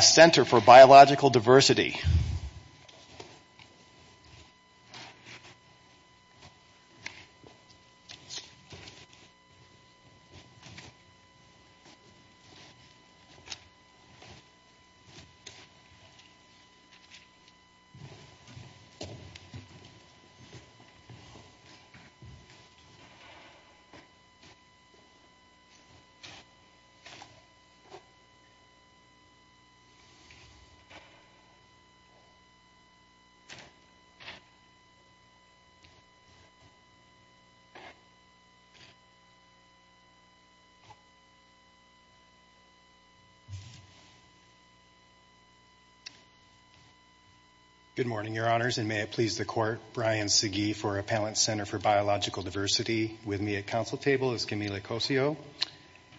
Center for Biological Diversity Good morning, your honors, and may it please the court, Brian Segee for Appellant Center for Biological Diversity. With me at council table is Camila Cosio,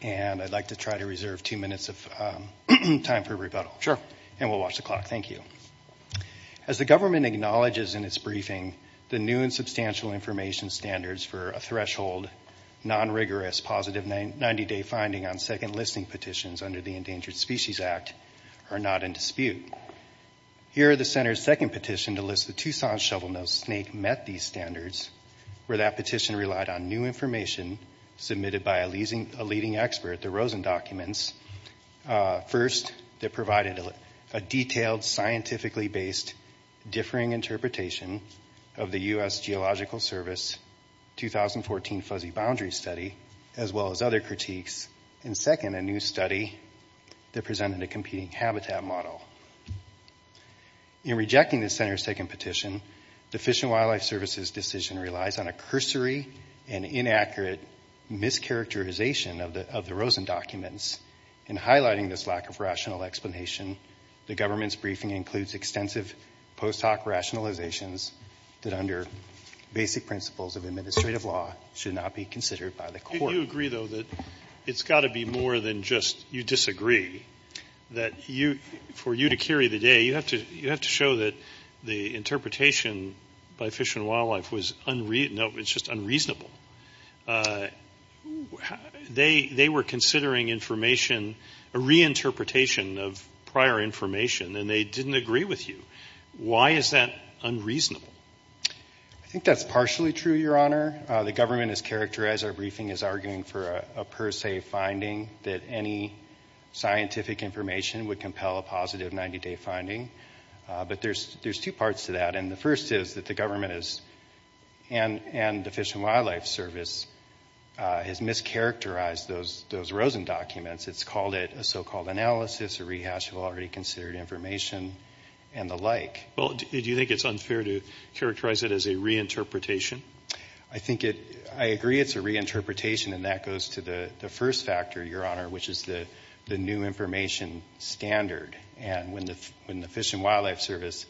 and I'd like to try to reserve two minutes of time for rebuttal, and we'll watch the clock. Thank you. As the government acknowledges in its briefing, the new and substantial information standards for a threshold, non-rigorous, positive 90-day finding on second listing petitions under the Endangered Species Act are not in dispute. Here are the center's second petition to list the Tucson shovelnose snake met these standards, where that petition relied on new information submitted by a leading expert, the Rosen documents. First, they provided a detailed scientifically based differing interpretation of the U.S. Geological Service 2014 Fuzzy Boundary Study, as well as other critiques, and second, a new study that presented a competing habitat model. In rejecting the center's second petition, the Fish & Wildlife Service's decision relies on a cursory and inaccurate mischaracterization of the Rosen documents. In highlighting this lack of rational explanation, the government's briefing includes extensive post hoc rationalizations that under basic principles of administrative law should not be considered by the court. Do you agree, though, that it's got to be more than just you disagree, that for you to carry the day, you have to show that the interpretation by Fish & Wildlife was unreasonable? They were considering information, a reinterpretation of prior information, and they didn't agree with you. Why is that unreasonable? I think that's partially true, Your Honor. The government has characterized our briefing as arguing for a per se finding that any scientific information would compel a positive 90-day finding. But there's two parts to that, and the first is that the government and the Fish & Wildlife Service has mischaracterized those Rosen documents. It's called it a so-called analysis, a rehash of already considered information, and the like. Well, do you think it's unfair to characterize it as a reinterpretation? I agree it's a reinterpretation, and that goes to the first factor, Your Honor, which is the new information standard. And when the Fish & Wildlife Service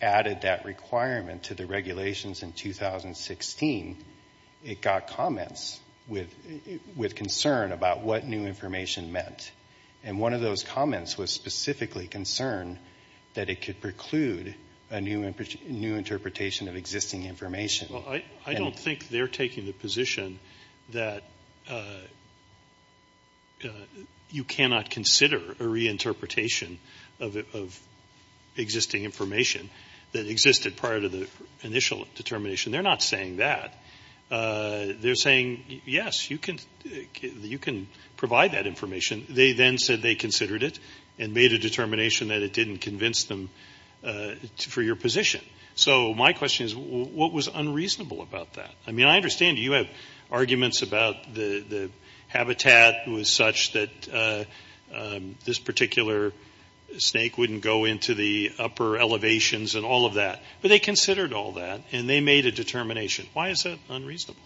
added that requirement to the regulations in 2016, it got comments with concern about what new information meant. And one of those comments was specifically concerned that it could preclude a new interpretation of existing information. Well, I don't think they're taking the position that you cannot consider a reinterpretation of existing information that existed prior to the initial determination. They're not saying that. They're saying, yes, you can provide that information. They then said they considered it and made a determination that it didn't convince them for your position. So my question is, what was unreasonable about that? I mean, I understand you have arguments about the habitat was such that this particular snake wouldn't go into the upper elevations and all of that. But they considered all that, and they made a determination. Why is that unreasonable?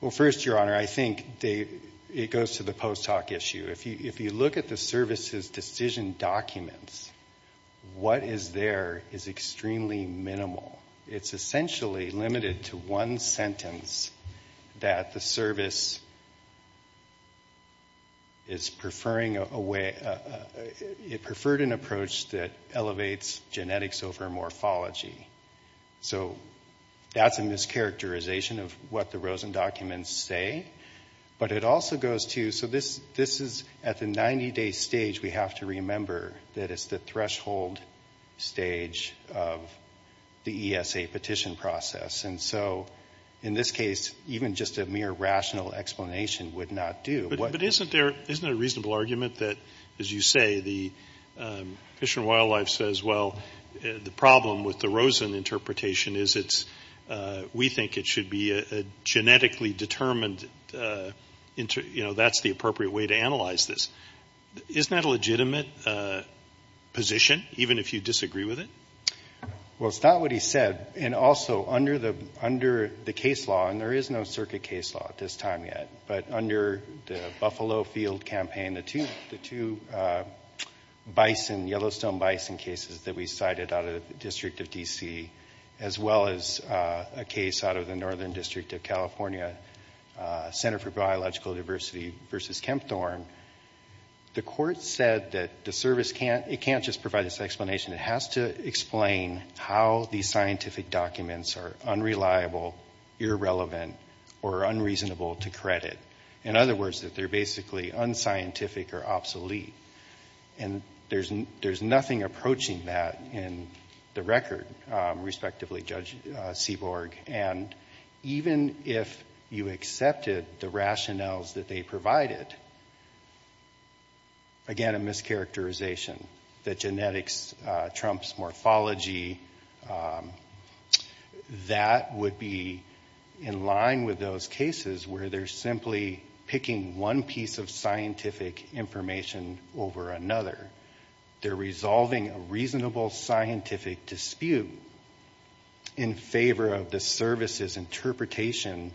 Well, first, Your Honor, I think it goes to the post hoc issue. If you look at the service's decision documents, what is there is extremely minimal. It's essentially limited to one sentence that the service is preferring a way, it preferred an approach that elevates genetics over morphology. So that's a mischaracterization of what the Rosen documents say. But it also goes to, so this is at the 90-day stage we have to remember that it's the threshold stage of the ESA petition process. And so in this case, even just a mere rational explanation would not do. But isn't there a reasonable argument that, as you say, the Fish and Wildlife says, well, the problem with the Rosen interpretation is it's, we think it should be a genetically determined, that's the appropriate way to analyze this. Isn't that a legitimate position, even if you disagree with it? Well, it's not what he said. And also, under the case law, and there is no circuit case law at this time yet, but under the Buffalo Field campaign, the two bison, Yellowstone bison cases that we cited out of the District of D.C., as well as a case out of the Northern District of California, Center for Biological Diversity v. Kempthorne, the court said that the service can't, it can't just provide this explanation. It has to explain how these scientific documents are unreliable, irrelevant, or unreasonable to credit. In other words, that they're basically unscientific or obsolete. And there's nothing approaching that in the record, respectively Judge Seaborg. And even if you accepted the rationales that they provided, again, a mischaracterization, that genetics trumps morphology, that would be in line with those cases where they're simply picking one piece of scientific information over another. They're resolving a reasonable scientific dispute in favor of the service's interpretation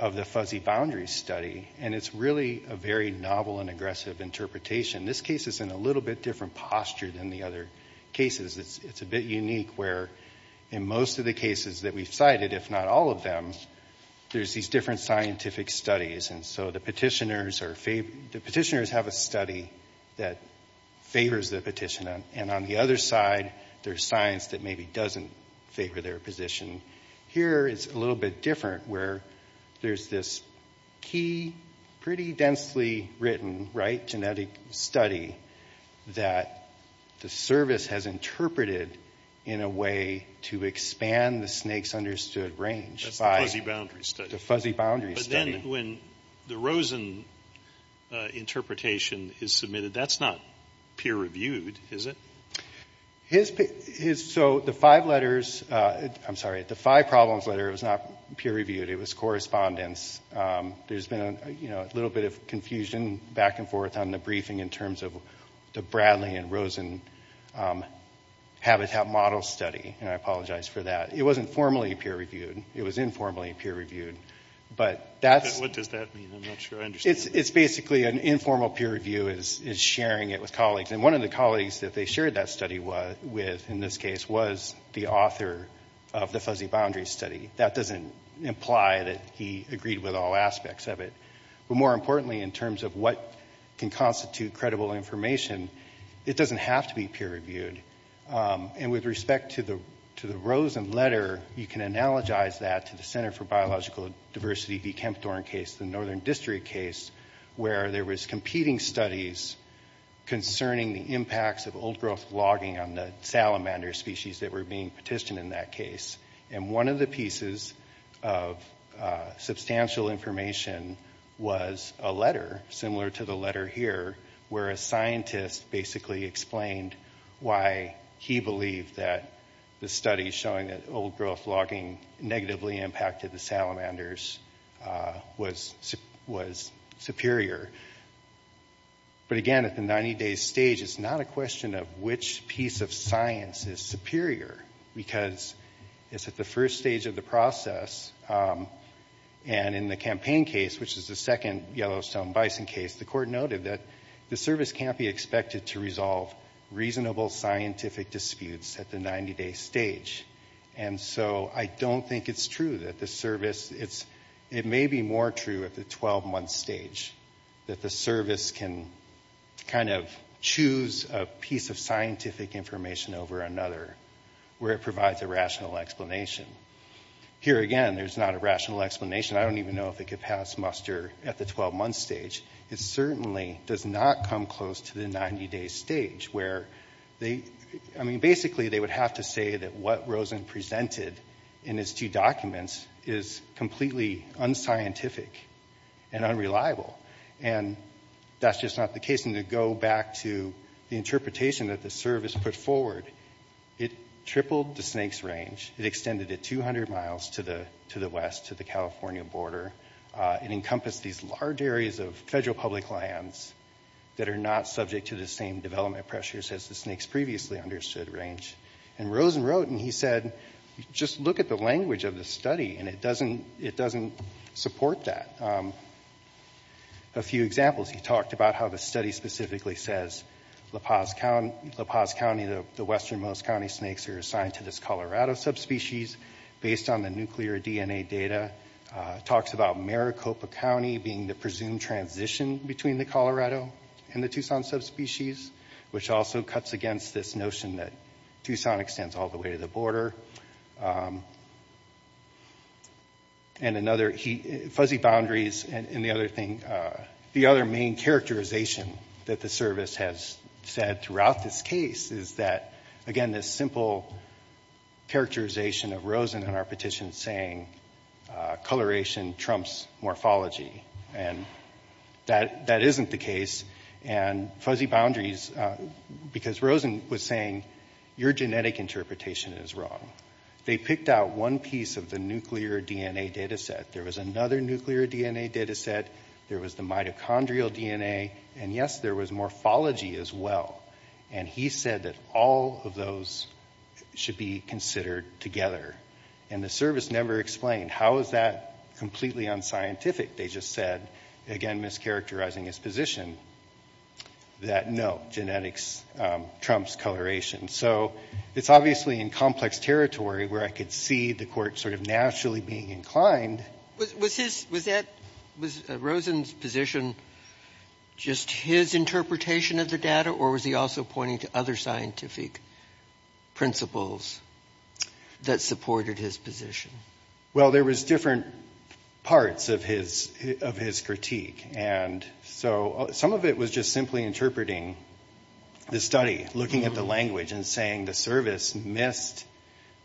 of the fuzzy boundaries study. And it's really a very novel and aggressive interpretation. This case is in a little bit different posture than the other cases. It's a bit unique where in most of the cases that we've cited, if not all of them, there's these different scientific studies. And so the petitioners have a study that favors the petitioner. And on the other side, there's science that maybe doesn't favor their position. Here, it's a little bit different where there's this key, pretty densely written, right, genetic study that the service has interpreted in a way to expand the snake's understood range by the fuzzy boundaries study. And when the Rosen interpretation is submitted, that's not peer-reviewed, is it? So the five letters, I'm sorry, the five problems letter was not peer-reviewed. It was correspondence. There's been a little bit of confusion back and forth on the briefing in terms of the Bradley and Rosen habitat model study, and I apologize for that. It wasn't formally peer-reviewed. It was informally peer-reviewed. But that's... What does that mean? I'm not sure I understand. It's basically an informal peer review is sharing it with colleagues. And one of the colleagues that they shared that study with in this case was the author of the fuzzy boundaries study. That doesn't imply that he agreed with all aspects of it. But more importantly, in terms of what can constitute credible information, it doesn't have to be peer-reviewed. And with respect to the Rosen letter, you can analogize that to the Center for Biological Diversity v. Kempthorne case, the Northern District case, where there was competing studies concerning the impacts of old-growth logging on the salamander species that were being petitioned in that case. And one of the pieces of substantial information was a letter, similar to the letter here, where a scientist basically explained why he believed that the studies showing that old-growth logging negatively impacted the salamanders was superior. But again, at the 90-day stage, it's not a question of which piece of science is superior, because it's at the first stage of the process, and in the campaign case, which is the second Yellowstone bison case, the court noted that the service can't be expected to resolve reasonable scientific disputes at the 90-day stage. And so I don't think it's true that the service, it may be more true at the 12-month stage, that the service can kind of choose a piece of scientific information over another, where it provides a rational explanation. Here, again, there's not a rational explanation. I don't even know if it could pass muster at the 12-month stage. It certainly does not come close to the 90-day stage, where they, I mean, basically, they would have to say that what Rosen presented in his two documents is completely unscientific and unreliable. And that's just not the case. And to go back to the interpretation that the service put forward, it tripled the snakes' range. It extended it 200 miles to the west, to the California border. It encompassed these large areas of federal public lands that are not subject to the same development pressures as the snakes' previously understood range. And Rosen wrote, and he said, just look at the language of the study, and it doesn't support that. A few examples. He talked about how the study specifically says La Paz County, the westernmost county snakes, are assigned to this Colorado subspecies, based on the nuclear DNA data. Talks about Maricopa County being the presumed transition between the Colorado and the Tucson subspecies, which also cuts against this notion that Tucson extends all the way to the border. And another, fuzzy boundaries, and the other thing, the other main characterization that the service has said throughout this case is that, again, this simple characterization of Rosen in our petition saying coloration trumps morphology. And that isn't the case. And fuzzy boundaries. They picked out one piece of the nuclear DNA data set. There was another nuclear DNA data set. There was the mitochondrial DNA. And yes, there was morphology as well. And he said that all of those should be considered together. And the service never explained how is that completely unscientific. They just said, again, mischaracterizing his position, that no, genetics trumps coloration. So it's obviously in complex territory where I could see the court sort of naturally being inclined. Was Rosen's position just his interpretation of the data, or was he also pointing to other scientific principles that supported his position? Well, there was different parts of his critique. And so some of it was just simply interpreting the study, looking at the language and saying the service missed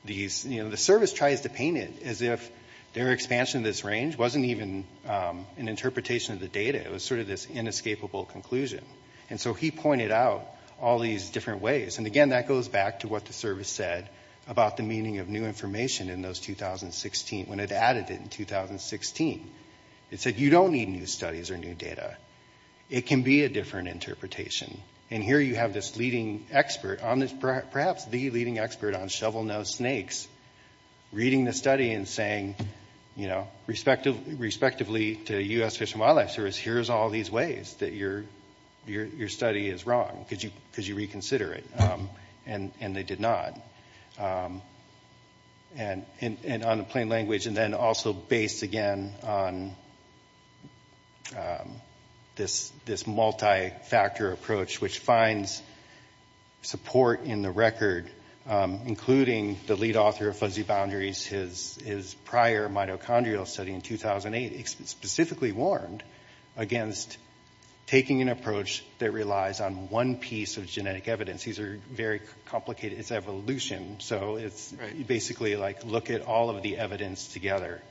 these, you know, the service tries to paint it as if their expansion of this range wasn't even an interpretation of the data. It was sort of this inescapable conclusion. And so he pointed out all these different ways. And again, that goes back to what the service said about the meaning of new information in those 2016, when it added it in 2016. It said you don't need new studies or new data. It can be a different interpretation. And here you have this leading expert on this, perhaps the leading expert on shovel-nosed snakes reading the study and saying, you know, respectively to U.S. Fish and Wildlife Service, here's all these ways that your study is wrong. Could you reconsider it? And they did not. And on the plain language, and then also based, again, on this multi-factor approach, which finds support in the record, including the lead author of Fuzzy Boundaries, his prior mitochondrial study in taking an approach that relies on one piece of genetic evidence. These are very complicated. It's evolution. So it's basically like look at all of the evidence together.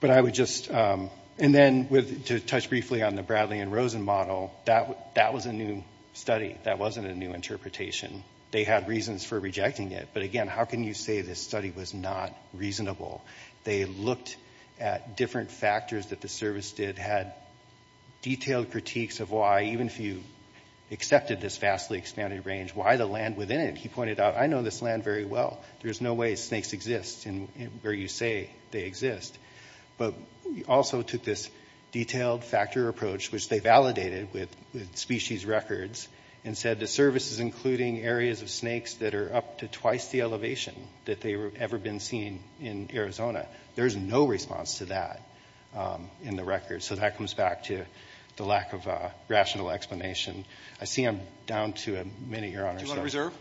But I would just, and then to touch briefly on the Bradley and Rosen model, that was a new study. That wasn't a new interpretation. They had reasons for rejecting it. But again, how can you say this study was not reasonable? They looked at different factors that the service did. Had detailed critiques of why, even if you accepted this vastly expanded range, why the land within it? He pointed out, I know this land very well. There's no way snakes exist where you say they exist. But also took this detailed factor approach, which they validated with species records, and said the elevation that they've ever been seen in Arizona. There's no response to that in the record. So that comes back to the lack of rational explanation. I see I'm down to a minute, Your Honor. Do you want to reserve?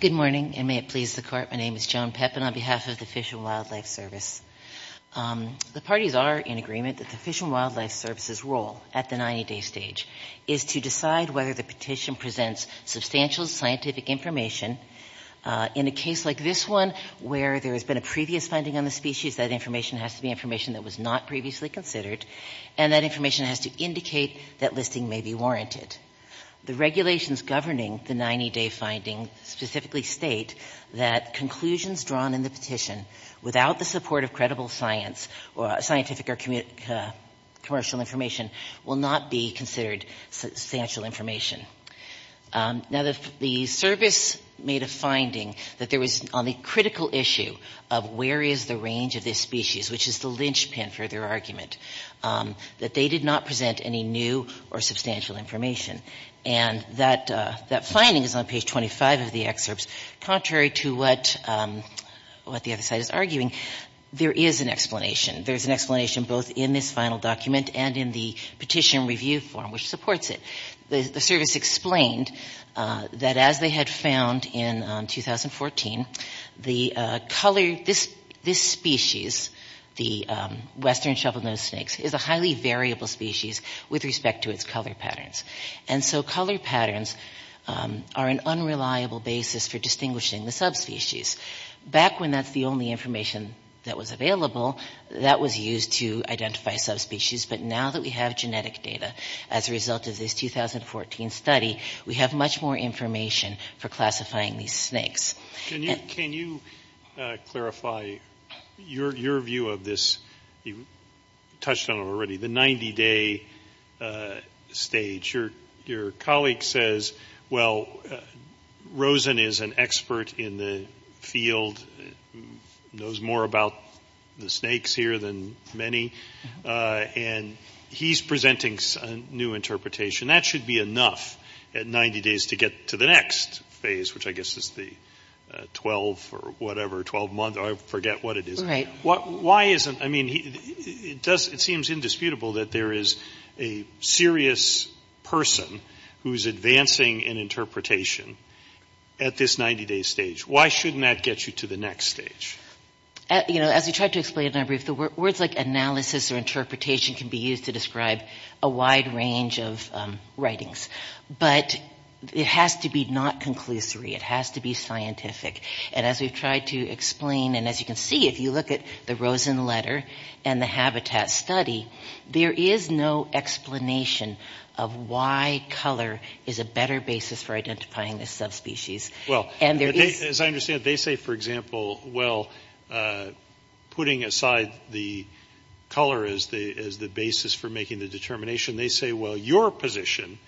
Good morning, and may it please the Court. My name is Joan Pepin on behalf of the Fish and Wildlife Service. The parties are in agreement that the Fish and Wildlife Service's role at the 90-day stage is to decide whether the petition presents substantial scientific information. In a case like this one, where there has been a previous finding on the species, that information has to be information that was not previously considered, and that information has to indicate that listing may be warranted. The regulations governing the 90-day finding specifically state that conclusions drawn in the petition without the support of credible scientific or commercial information will not be considered substantial information. Now, the service made a finding that there was, on the critical issue of where is the range of this species, which is the linchpin for their argument, that they did not present any new or substantial information. And that finding is on page 25 of the excerpts, contrary to what the other side is arguing. There is an explanation. There is an explanation both in this final document and in the petition review form, which supports it. The service explained that as they had found in 2014, the color, this species, the western shovelnose snakes, is a highly variable species with respect to its color patterns. And so color patterns are an unreliable basis for distinguishing the subspecies. Back when that's the only information that was available, that was used to identify subspecies. But now that we have genetic data as a result of this 2014 study, we have much more information for classifying these snakes. Can you clarify your view of this? You touched on it already, the 90-day stage. Your colleague says, well, the field knows more about the snakes here than many. And he's presenting a new interpretation. That should be enough at 90 days to get to the next phase, which I guess is the 12 or whatever, 12-month, I forget what it is. It seems indisputable that there is a serious person who is advancing an interpretation at this 90-day stage. Why shouldn't that get you to the next stage? As we tried to explain, words like analysis or interpretation can be used to describe a wide range of writings. But it has to be not conclusory. It has to be scientific. And as we've tried to explain, and as you can see, if you look at the Rosen letter and the habitat study, there is no explanation of why color is a better basis for identifying the subspecies. As I understand it, they say, for example, well, putting aside the color as the basis for making the determination, they say, well, your position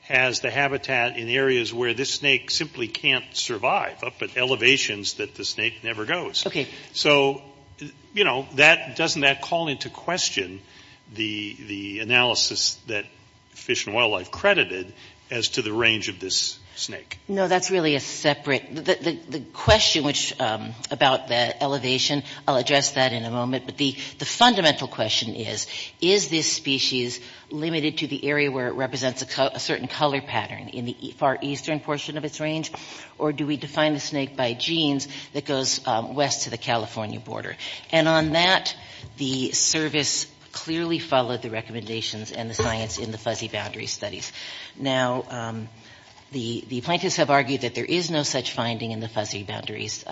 has the habitat in areas where this snake simply can't survive, up at elevations that the snake never goes. So, you know, doesn't that call into question the analysis that Fish and Wildlife credited as to the range of this snake? No, that's really a separate, the question about the elevation, I'll address that in a moment, but the fundamental question is, is this species limited to the area where it represents a certain color pattern in the far eastern portion of its range? Or do we define the snake by genes that goes west to the California border? And on that, the service clearly followed the recommendations and the science in the Fuzzy Boundaries studies. Now, the plaintiffs have argued that there is no such finding in the Fuzzy Boundaries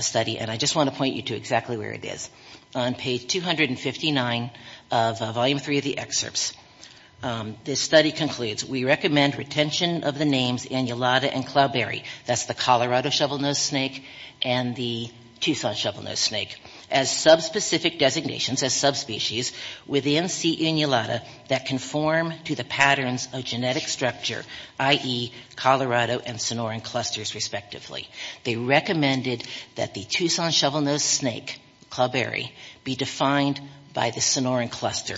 study, and I just want to point you to exactly where it is, on page 259 of volume three of the excerpts. This study concludes, we recommend retention of the names Anulata and Cloudberry, that's the Colorado shovelnose snake and the Tucson shovelnose snake, as subspecific designations, as subspecies, within C. anulata that conform to the patterns of genetic structure, i.e., Colorado and Sonoran clusters, respectively. They recommended that the Tucson shovelnose snake, Cloudberry, be defined by the Sonoran cluster.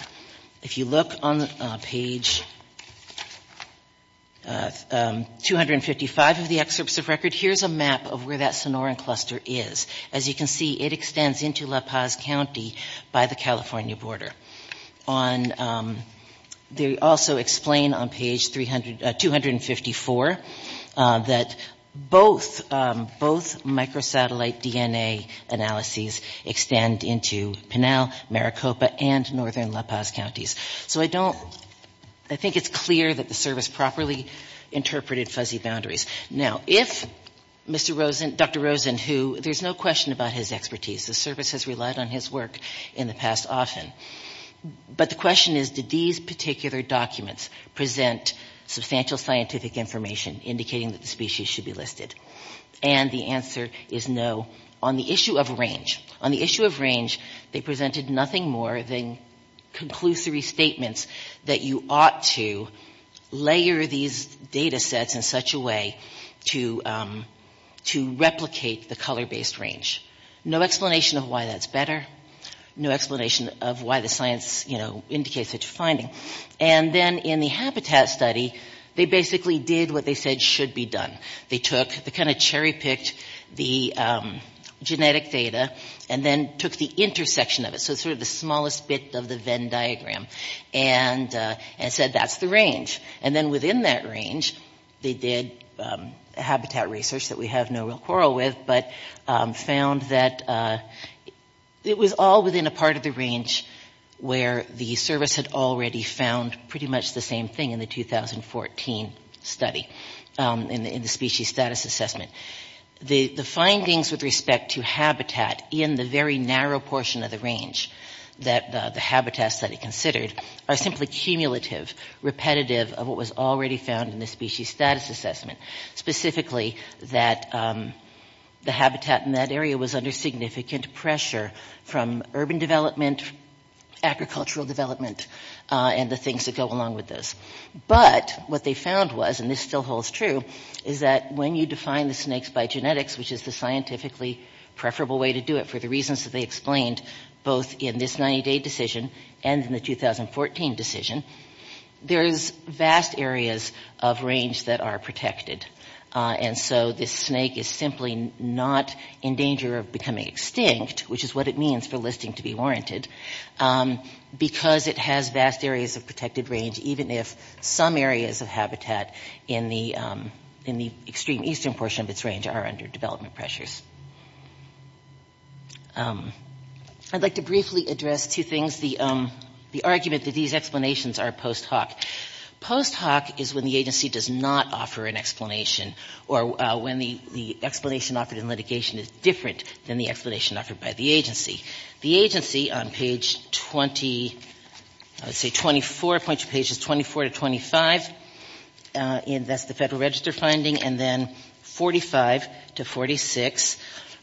If you look on page 255 of the excerpts of record, here's a map of where that Sonoran cluster is. As you can see, it extends into La Paz County by the California border. They also explain on page 254 that both microsatellite DNA analyses extend into Pinal, Maricopa, and northern La Paz counties. So I don't, I think it's clear that the service properly interpreted Fuzzy Boundaries. Now, if Mr. Rosen, Dr. Rosen, who, there's no question about his expertise, the service has relied on his work in the past often, but the question is, did these particular documents present substantial scientific information indicating that the species should be listed? And the answer is no, on the issue of range. On the issue of range, they presented nothing more than conclusory statements that you ought to layer these data sets in such a way to replicate the color-based range. No explanation of why that's better. No explanation of why the science, you know, indicates such a finding. And then in the habitat study, they basically did what they said should be done. They took, they kind of cherry-picked the genetic data, and then took the intersection of it, so sort of the smallest bit of the Venn diagram, and said, that's the range. And then within that range, they did, you know, a series of measurements. They did a lot of habitat research that we have no real quarrel with, but found that it was all within a part of the range where the service had already found pretty much the same thing in the 2014 study, in the species status assessment. The findings with respect to habitat in the very narrow portion of the range that the habitat study considered are simply cumulative, repetitive of what was already found in the species status assessment, specifically that the habitat in that area was under significant pressure from urban development, agricultural development, and the things that go along with this. But what they found was, and this still holds true, is that when you define the snakes by genetics, which is the scientifically preferable way to do it for the reasons that they explained, both in this 90-day decision and in the 2014 decision, there's vast areas of range that are protected. And so this snake is simply not in danger of becoming extinct, which is what it means for listing to be warranted, because it has vast areas of protected range, even if some areas of habitat in the extreme eastern portion of its range are under development pressures. I'd like to briefly address two things. The argument that these explanations are post hoc. Post hoc is when the agency does not offer an explanation, or when the explanation offered in litigation is different than the explanation offered by the agency. The agency, on page 20, I would say 24, a bunch of pages, 24 to 25, that's the Federal Register finding, and then 45 to 46,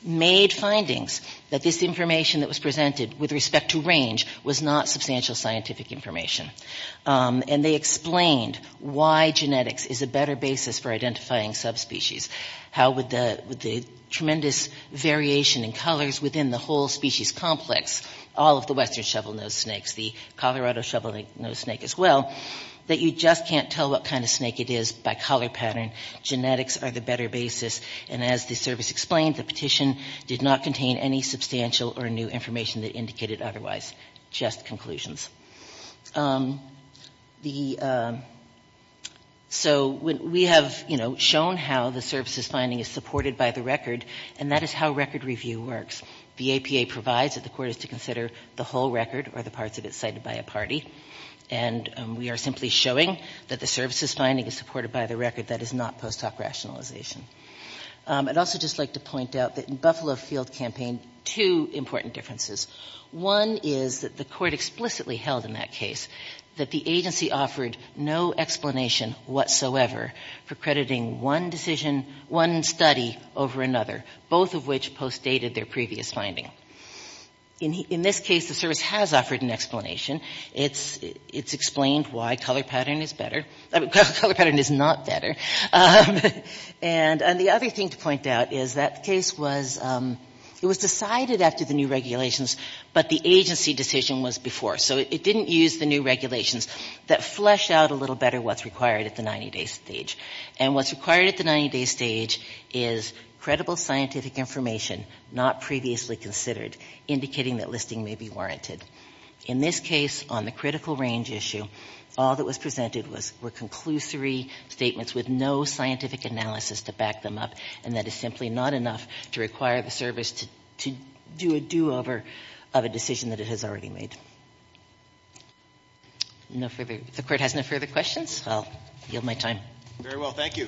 made findings that this information that was presented with respect to range was not substantial scientific information. And they explained why genetics is a better basis for identifying subspecies. How with the tremendous variation in colors within the whole species complex, all of the western shovelnose snakes, the Colorado shovelnose snake as well, that you just can't tell what kind of snake it is by color pattern, genetics, are the better basis. And as the service explained, the petition did not contain any substantial or new information that indicated otherwise, just conclusions. So we have, you know, shown how the services finding is supported by the record, and that is how record review works. The APA provides that the court is to consider the whole record or the parts of it cited by a party. And we are simply showing that the services finding is supported by the record that is not post hoc records. And that's a rationalization. I'd also just like to point out that in Buffalo Field Campaign, two important differences. One is that the court explicitly held in that case that the agency offered no explanation whatsoever for crediting one decision, one study over another, both of which post dated their previous finding. In this case, the service has offered an explanation. It's explained why color pattern is better. Color pattern is not better. And the other thing to point out is that case was, it was decided after the new regulations, but the agency decision was before. So it didn't use the new regulations that flesh out a little better what's required at the 90-day stage. And what's required at the 90-day stage is credible scientific information not previously considered, indicating that listing may be based on the critical range issue. All that was presented were conclusory statements with no scientific analysis to back them up. And that is simply not enough to require the service to do a do-over of a decision that it has already made. No further, the court has no further questions. I'll yield my time. Very well, thank you.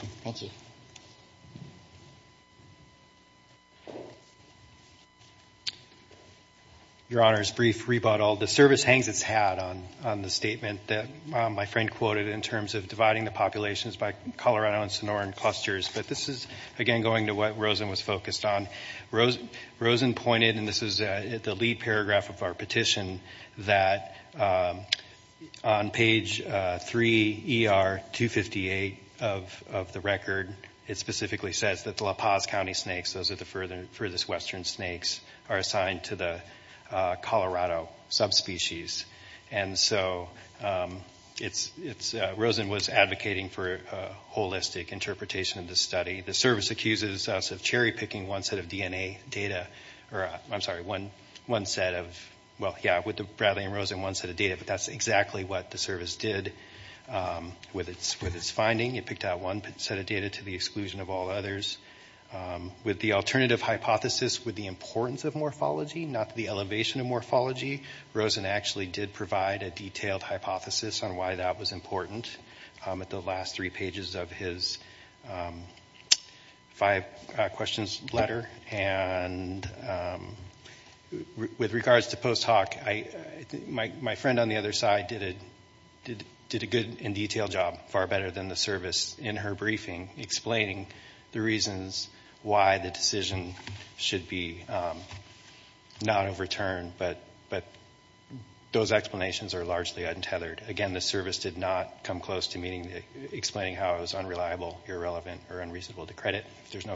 Your Honor, a brief rebuttal. The service hangs its hat on the statement that my friend quoted in terms of dividing the populations by Colorado and Sonoran clusters, but this is again going to what Rosen was focused on. Rosen pointed, and this is the lead paragraph of our petition, that on page 3 ER 258, there is a statement that says, and this is the date of the record, it specifically says that the La Paz County snakes, those are the furthest western snakes, are assigned to the Colorado subspecies. And so it's, Rosen was advocating for a holistic interpretation of the study. The service accuses us of cherry picking one set of DNA data, or I'm sorry, one set of, well, yeah, with the Bradley and Rosen, one set of data, but that's exactly what the service did with its finding. They picked out one set of data to the exclusion of all others. With the alternative hypothesis with the importance of morphology, not the elevation of morphology, Rosen actually did provide a detailed hypothesis on why that was important at the last three pages of his five questions letter. And with regards to post hoc, my friend on the other side did a good and detailed job, far better than the service. In her briefing, explaining the reasons why the decision should be not overturned, but those explanations are largely untethered. Again, the service did not come close to explaining how it was unreliable, irrelevant, or unreasonable to credit. If there's no further questions.